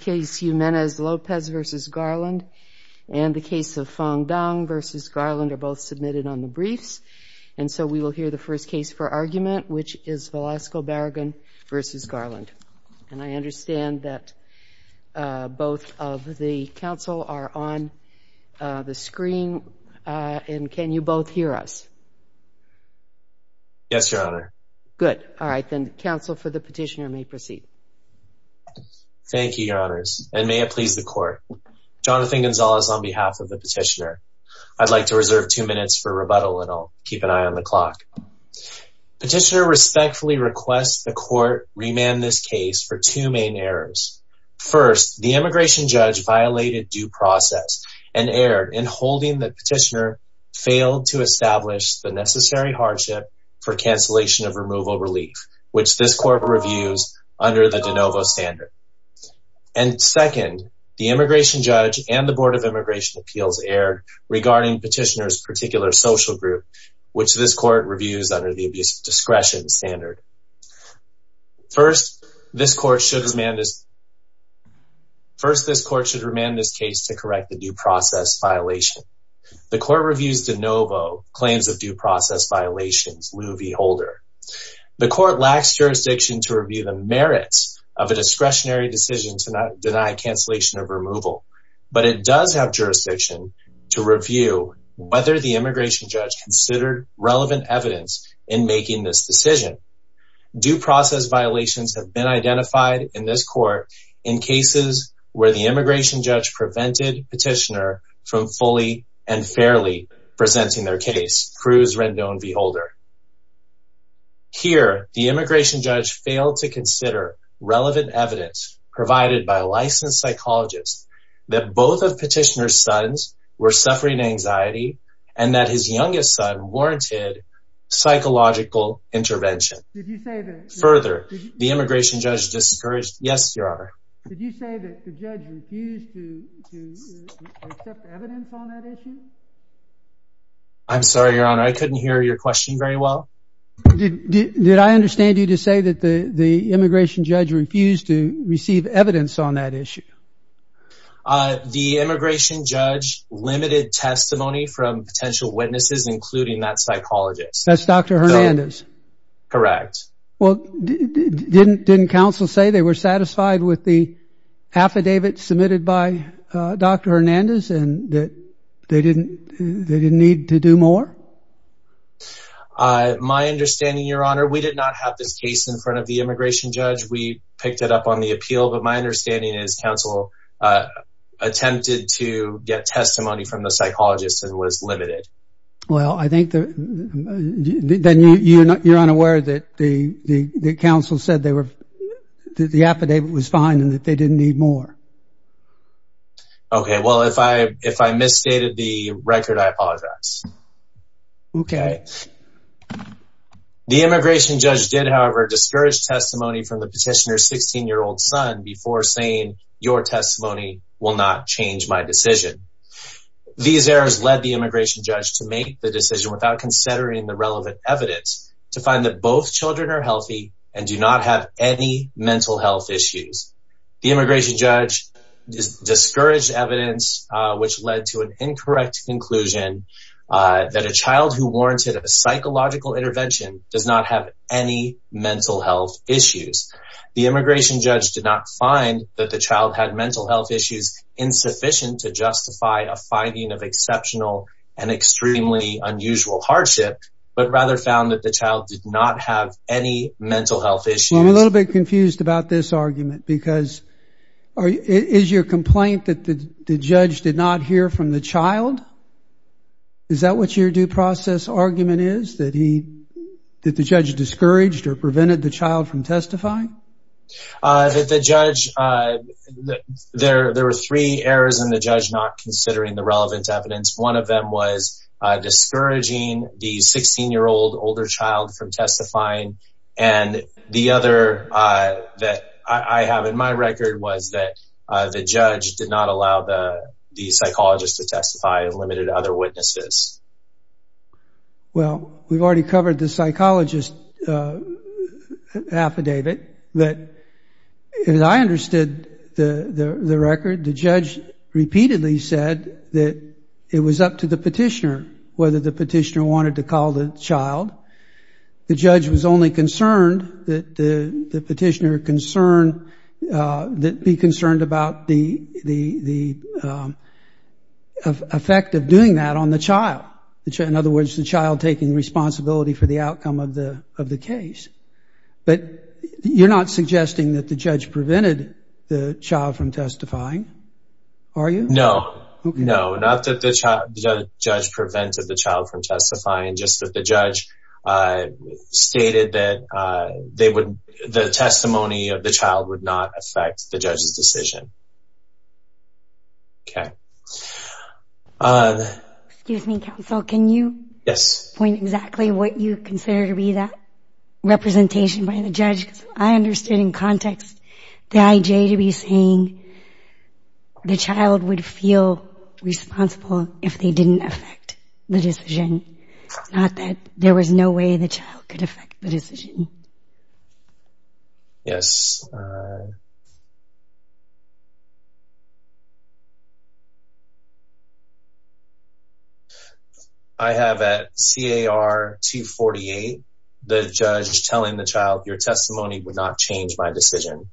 case Jimenez-Lopez v. Garland and the case of Fong-Tung v. Garland are both submitted on the briefs and so we will hear the first case for argument which is Velasco-Barragan v. Garland and I understand that both of the council are on the screen and can you both hear us yes your honor good all right then counsel for the petitioner may proceed thank you your honors and may it please the court Jonathan Gonzalez on behalf of the petitioner I'd like to reserve two minutes for rebuttal and I'll keep an eye on the clock petitioner respectfully requests the court remand this case for two main errors first the immigration judge violated due process and erred in holding the petitioner failed to establish the necessary hardship for cancellation of removal relief which this court reviews under the de novo standard and second the immigration judge and the Board of Immigration Appeals erred regarding petitioners particular social group which this court reviews under the abuse of discretion standard first this court should remand this first this court should remand this case to correct the due process violation the court reviews de novo claims of due process violations Lou V Holder the court lacks jurisdiction to review the merits of a discretionary decision to not deny cancellation of removal but it does have jurisdiction to review whether the immigration judge considered relevant evidence in making this decision due process violations have been identified in this court in cases where the immigration judge petitioner from fully and fairly presenting their case Cruz Rendon V Holder here the immigration judge failed to consider relevant evidence provided by licensed psychologists that both of petitioner's sons were suffering anxiety and that his youngest son warranted psychological intervention further the evidence on that issue I'm sorry your honor I couldn't hear your question very well did I understand you to say that the the immigration judge refused to receive evidence on that issue the immigration judge limited testimony from potential witnesses including that psychologist that's dr. Hernandez correct well didn't didn't counsel say they were satisfied with the affidavit submitted by dr. Hernandez and that they didn't they didn't need to do more my understanding your honor we did not have this case in front of the immigration judge we picked it up on the appeal but my understanding is counsel attempted to get testimony from the psychologist and was limited well I think that then you know you're unaware that the the council said they were the okay well if I if I misstated the record I apologize okay the immigration judge did however discourage testimony from the petitioner 16 year old son before saying your testimony will not change my decision these errors led the immigration judge to make the decision without considering the relevant evidence to find that both children are healthy and do not have any mental health issues the discouraged evidence which led to an incorrect conclusion that a child who warranted a psychological intervention does not have any mental health issues the immigration judge did not find that the child had mental health issues insufficient to justify a finding of exceptional and extremely unusual hardship but rather found that the child did not have any mental health issues a little bit confused about this argument because is your complaint that the judge did not hear from the child is that what your due process argument is that he did the judge discouraged or prevented the child from testifying that the judge there there were three errors in the judge not considering the relevant evidence one of them was discouraging the 16 year old older child from that I have in my record was that the judge did not allow the the psychologist to testify and limited other witnesses well we've already covered the psychologist affidavit that I understood the the record the judge repeatedly said that it was up to the petitioner whether the petitioner wanted to call the child the judge was only concerned that the petitioner concerned that be concerned about the the the effect of doing that on the child which in other words the child taking responsibility for the outcome of the of the case but you're not suggesting that the judge prevented the child from testifying are you know not that the judge prevented the child from testifying just that the judge stated that they would the testimony of the child would not affect the judge's decision can you point exactly what you consider to be that representation by the judge I understand in context the IJ to be saying the child would feel responsible if they didn't affect the decision not that there was no way the child could affect the decision yes I have at CAR 248 the judge telling the child your testimony would not change my decision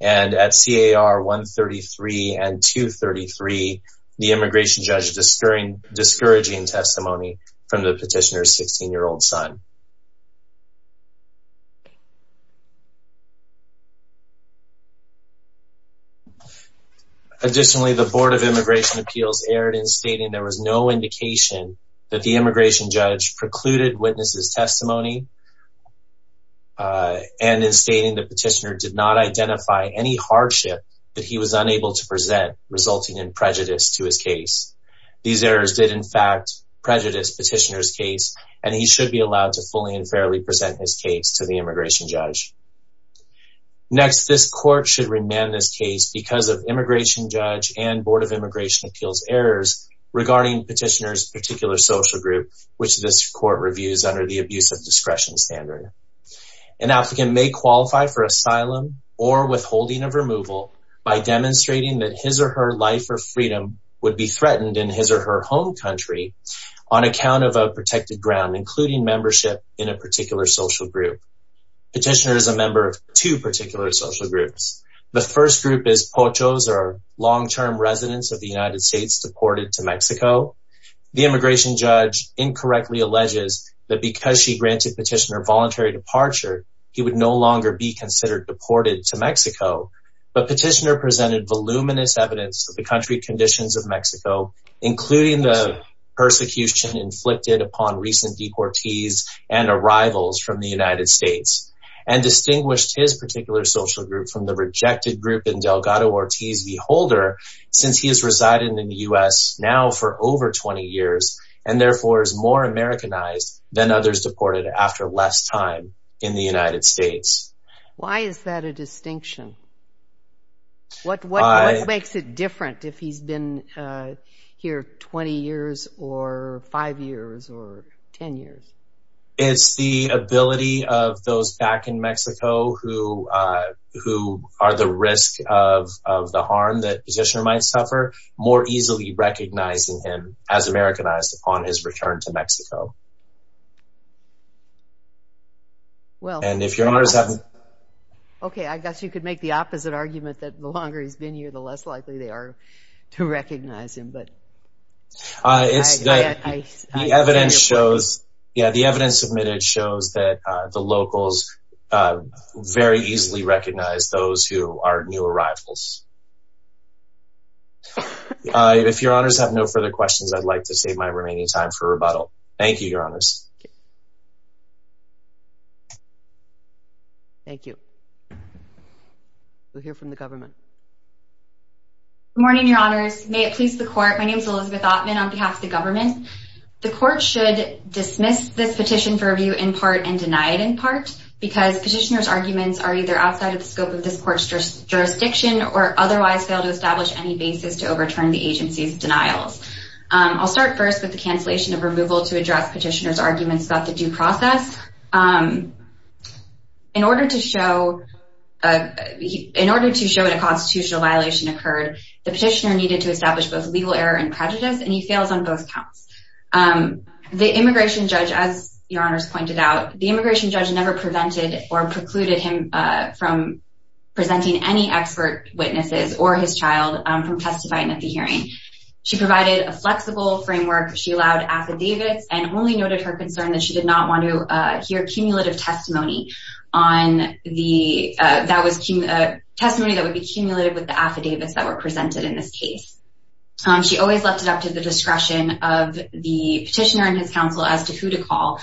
and at CAR 133 and 233 the immigration judge discouraging testimony from the petitioner 16-year-old son additionally the Board of Immigration Appeals aired in stating there was no indication that the immigration judge precluded witnesses testimony and is stating the petitioner did not identify any hardship that he was unable to prejudice petitioner's case and he should be allowed to fully and fairly present his case to the immigration judge next this court should remand this case because of immigration judge and Board of Immigration Appeals errors regarding petitioners particular social group which this court reviews under the abuse of discretion standard an applicant may qualify for asylum or withholding of removal by demonstrating that his or her life or freedom would be on account of a protected ground including membership in a particular social group petitioner is a member of two particular social groups the first group is pochos or long-term residents of the United States deported to Mexico the immigration judge incorrectly alleges that because she granted petitioner voluntary departure he would no longer be considered deported to Mexico but petitioner presented voluminous evidence of the country conditions of Mexico including the persecution inflicted upon recent deportees and arrivals from the United States and distinguished his particular social group from the rejected group in Delgado Ortiz the holder since he has resided in the US now for over 20 years and therefore is more Americanized than others deported after less time in the United States why is that a distinction what what makes it different if he's been here 20 years or five years or ten years it's the ability of those back in Mexico who who are the risk of the harm that positioner might suffer more easily recognizing him as Americanized upon his return to Mexico well and if you're not okay I guess you could make the opposite argument that the longer he's been here the less likely they are to recognize him but evidence shows yeah the evidence submitted shows that the locals very easily recognize those who are new arrivals if your honors have no further questions I'd like to save my remaining time for rebuttal thank you your honors thank you we'll hear from the government morning your honors may it please the court my name is Elizabeth Altman on behalf of the government the court should dismiss this petition for review in part and deny it in part because petitioners arguments are either outside of the scope of this court's just jurisdiction or otherwise fail to establish any basis to overturn the denials I'll start first with the cancellation of removal to address petitioners arguments about the due process in order to show in order to show it a constitutional violation occurred the petitioner needed to establish both legal error and prejudice and he fails on both counts the immigration judge as your honors pointed out the immigration judge never prevented or precluded him from presenting any expert witnesses or his she provided a flexible framework she allowed affidavits and only noted her concern that she did not want to hear cumulative testimony on the that was a testimony that would be cumulative with the affidavits that were presented in this case she always left it up to the discretion of the petitioner and his counsel as to who to call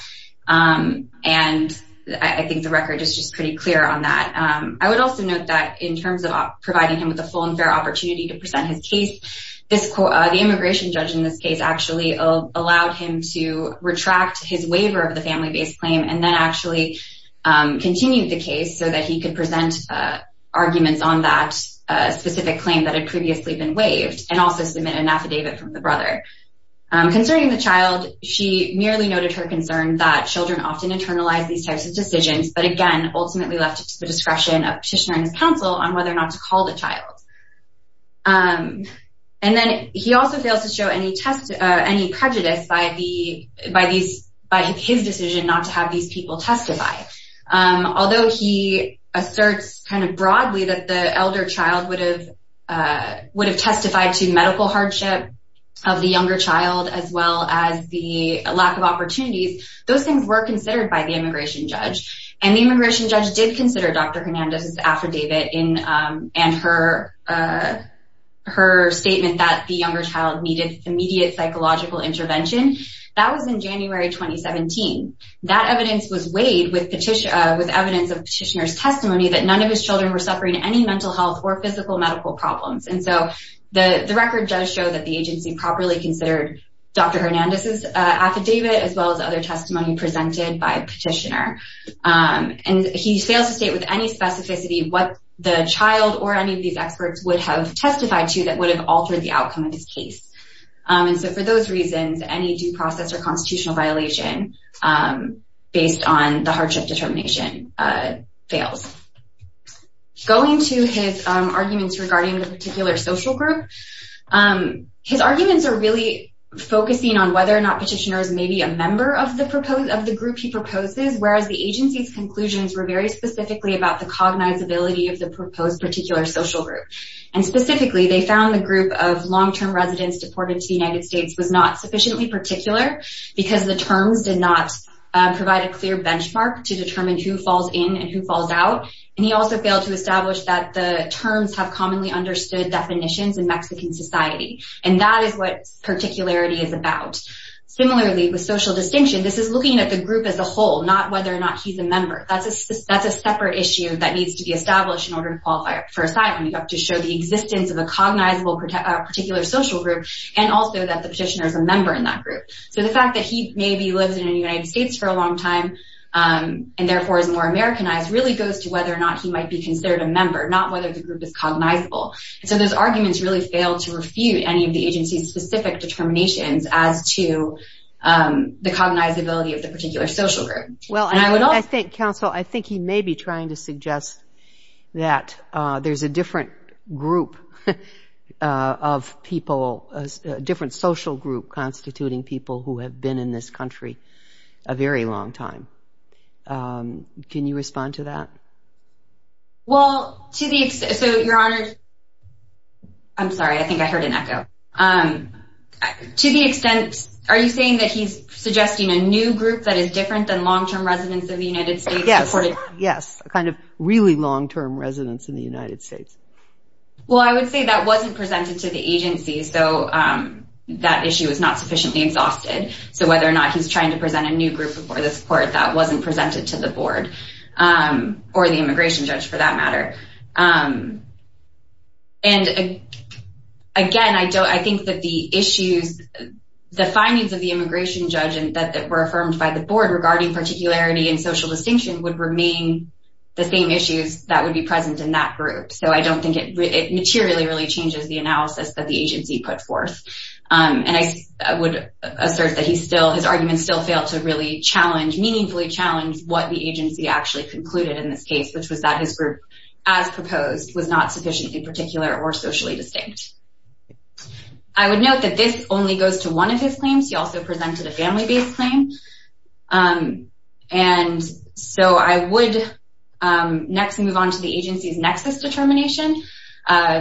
and I think the record is just pretty clear on that I would also note that in terms of providing him with a full and fair opportunity to present his case this quote the immigration judge in this case actually allowed him to retract his waiver of the family-based claim and then actually continued the case so that he could present arguments on that specific claim that had previously been waived and also submit an affidavit from the brother concerning the child she merely noted her concern that children often internalize these types of decisions but again ultimately left to the discretion of petitioner and his counsel on whether or not to call the child and then he also fails to show any test any prejudice by the by these by his decision not to have these people testify although he asserts kind of broadly that the elder child would have would have testified to medical hardship of the younger child as well as the lack of opportunities those things were considered by the immigration judge and the immigration judge did consider dr. Hernandez's affidavit in and her her statement that the younger child needed immediate psychological intervention that was in January 2017 that evidence was weighed with petition with evidence of petitioners testimony that none of his children were suffering any mental health or physical medical problems and so the the record does show that the agency properly considered dr. Hernandez's affidavit as well as other testimony presented by petitioner and he fails to state with any specificity what the child or any of these experts would have testified to that would have altered the outcome of his case and so for those reasons any due process or constitutional violation based on the hardship determination fails going to his arguments regarding the particular social group his arguments are really focusing on whether or not petitioners may be a member of the proposed of the group he proposes whereas the agency's very specifically about the cognitive ability of the proposed particular social group and specifically they found the group of long-term residents deported to the United States was not sufficiently particular because the terms did not provide a clear benchmark to determine who falls in and who falls out and he also failed to establish that the terms have commonly understood definitions in Mexican society and that is what particularity is about similarly with social distinction this is looking at the group as a whole not whether or not he's a member that's a separate issue that needs to be established in order to qualify for assignment you have to show the existence of a cognizable particular social group and also that the petitioner is a member in that group so the fact that he maybe lives in the United States for a long time and therefore is more Americanized really goes to whether or not he might be considered a member not whether the group is cognizable so those arguments really failed to refute any of the agency's specific determinations as to the cognizability of the particular social group well I think counsel I think he may be trying to suggest that there's a different group of people as a different social group constituting people who have been in this country a very long time can you respond to that well to the so your honor I'm sorry I think I heard an echo um to the extent are you saying that he's suggesting a new group that is different than long term residents of the United States yes yes a kind of really long term residents in the United States well I would say that wasn't presented to the agency so that issue is not sufficiently exhausted so whether or not he's trying to present a new group before this court that wasn't presented to the board or the immigration judge for that matter and again I don't I think that the issues the findings of the immigration judge and that that were affirmed by the board regarding particularity and social distinction would remain the same issues that would be present in that group so I don't think it materially really changes the analysis that the agency put forth and I would assert that he's still his arguments still fail to really challenge meaningfully challenge what the agency actually concluded in this case which was that his group as proposed was not in particular or socially distinct I would note that this only goes to one of his claims he also presented a family based claim and so I would next move on to the agency's nexus determination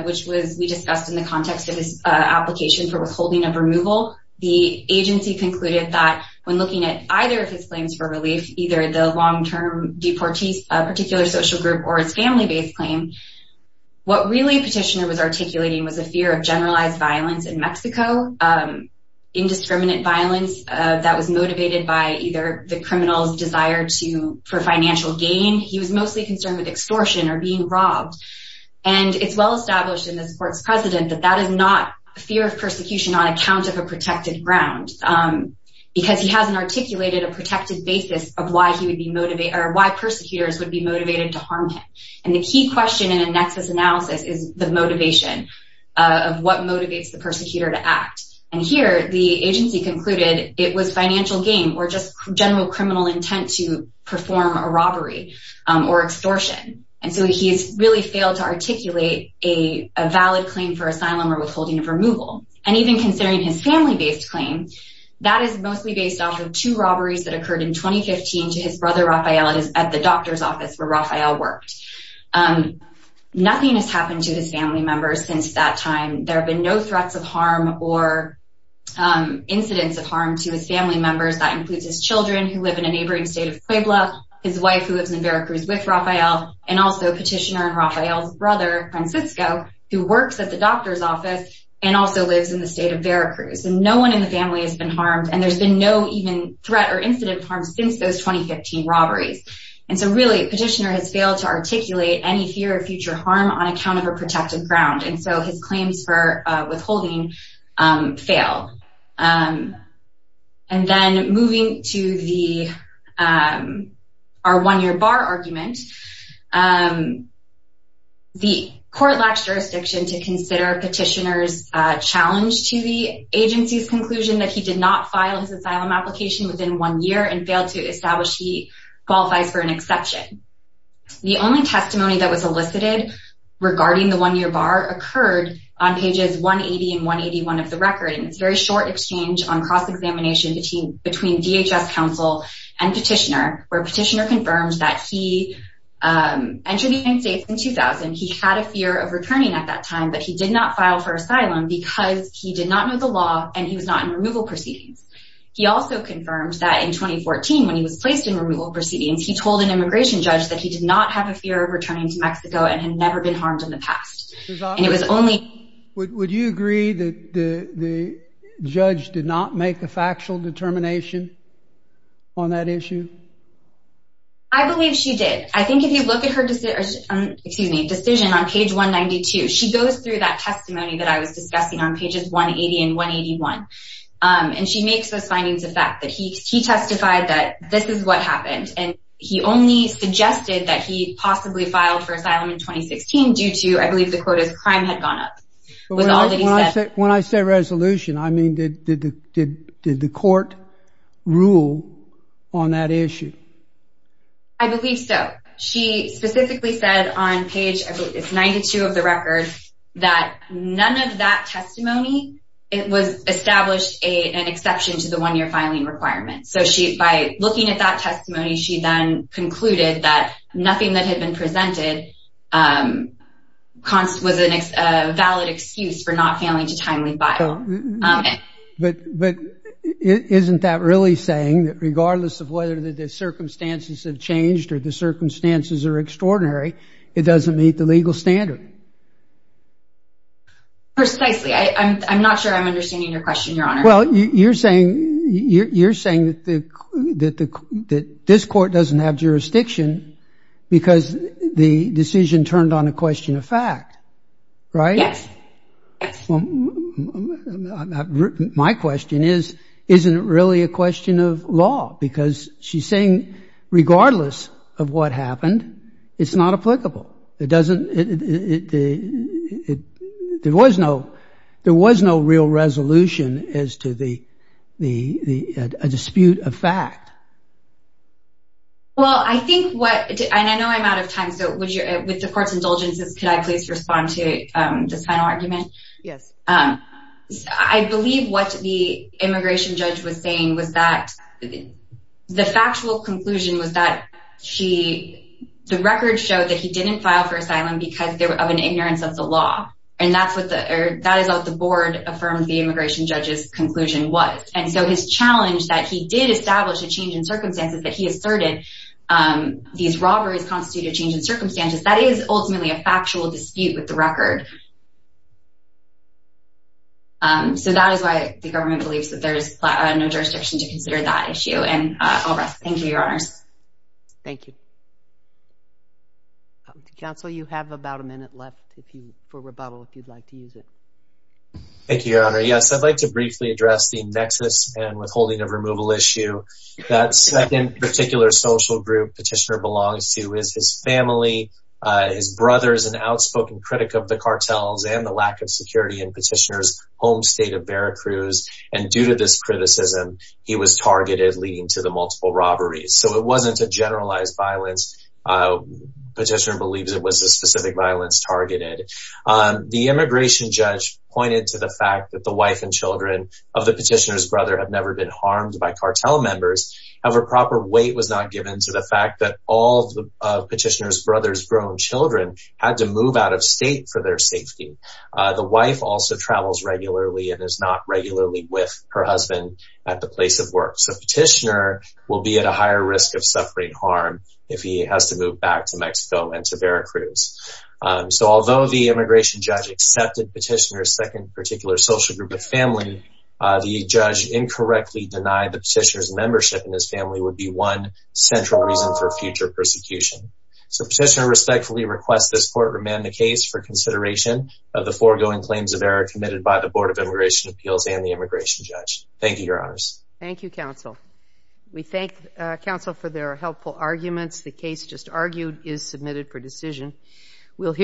which was we discussed in the context of this application for withholding of removal the agency concluded that when looking at either of his claims for relief either the long-term deportees a family-based claim what really petitioner was articulating was a fear of generalized violence in Mexico indiscriminate violence that was motivated by either the criminals desire to for financial gain he was mostly concerned with extortion or being robbed and it's well established in this court's president that that is not a fear of persecution on account of a protected ground because he hasn't articulated a protected basis of why he would be why persecutors would be motivated to harm him and the key question in a nexus analysis is the motivation of what motivates the persecutor to act and here the agency concluded it was financial gain or just general criminal intent to perform a robbery or extortion and so he's really failed to articulate a valid claim for asylum or withholding of removal and even considering his family-based claim that is mostly based off of two robberies that occurred in 2015 to his brother Raphael at the doctor's office where Raphael worked nothing has happened to his family members since that time there have been no threats of harm or incidents of harm to his family members that includes his children who live in a neighboring state of Puebla his wife who lives in Veracruz with Raphael and also petitioner and Raphael's brother Francisco who works at the doctor's office and also lives in the state of Veracruz and no one in the family has been harmed and there's been no even threat or incident of harm since those 2015 robberies and so really petitioner has failed to articulate any fear of future harm on account of a protected ground and so his claims for withholding failed and then moving to the our one-year bar argument the court lacks jurisdiction to consider petitioners challenge to the agency's conclusion that he did not file his asylum application within one year and failed to establish he qualifies for an exception the only testimony that was elicited regarding the one-year bar occurred on pages 180 and 181 of the record and it's very short exchange on cross-examination between between DHS counsel and petitioner where petitioner confirms that he entered the United States in 2000 he had a fear of returning at that time but he did not file for asylum because he did not know the law and he was not in removal proceedings he also confirmed that in 2014 when he was placed in removal proceedings he told an immigration judge that he did not have a fear of returning to Mexico and had never been harmed in the past and it was only would you agree that the judge did not make a factual determination on that issue I believe she did I think if you look at her decision on page 192 she goes through that testimony that I was discussing on pages 180 and 181 and she makes those findings of fact that he testified that this is what happened and he only suggested that he possibly filed for asylum in 2016 due to I believe the quotas crime had gone up when I say resolution I mean did the court rule on that issue I believe so she specifically said on page 92 of the record that none of that testimony it was established a an exception to the one year filing requirement so she by looking at that testimony she then concluded that nothing that had been presented constant was a valid excuse for not failing to timely file but but isn't that really saying that regardless of whether the circumstances have changed or the circumstances are precisely I'm not sure I'm understanding your question your honor well you're saying you're saying that the that the that this court doesn't have jurisdiction because the decision turned on a question of fact right yes my question is isn't it really a question of law because she's saying regardless of what happened it's not applicable it doesn't it there was no there was no real resolution as to the the dispute of fact well I think what I know I'm out of time so would you with the court's indulgences could I please respond to the final argument yes I believe what the immigration judge was saying was the factual conclusion was that she the record showed that he didn't file for asylum because they were of an ignorance of the law and that's what the that is what the board affirmed the immigration judge's conclusion was and so his challenge that he did establish a change in circumstances that he asserted these robberies constitute a change in circumstances that is ultimately a factual dispute with the record so that is why the government believes that there's no jurisdiction to consider that issue and thank you your honor's thank you counsel you have about a minute left if you for rebuttal if you'd like to use it thank you your honor yes I'd like to briefly address the nexus and withholding of removal issue that's in particular social group petitioner belongs to is his family his brothers and outspoken critic of the cartels and the lack of security and petitioners home state of Veracruz and due to the criticism he was targeted leading to the multiple robberies so it wasn't a generalized violence petition believes it was a specific violence targeted the immigration judge pointed to the fact that the wife and children of the petitioners brother have never been harmed by cartel members of a proper weight was not given to the fact that all the petitioners brothers grown children had to move out of state for their safety the wife also travels regularly and is not regularly with her husband at the place of work so petitioner will be at a higher risk of suffering harm if he has to move back to Mexico and to Veracruz so although the immigration judge accepted petitioner second particular social group of family the judge incorrectly denied the petitioners membership in his family would be one central reason for future persecution so petitioner respectfully requests this court remand the case for the Board of Immigration Appeals and the immigration judge thank you your honors thank you counsel we thank counsel for their helpful arguments the case just argued is submitted for decision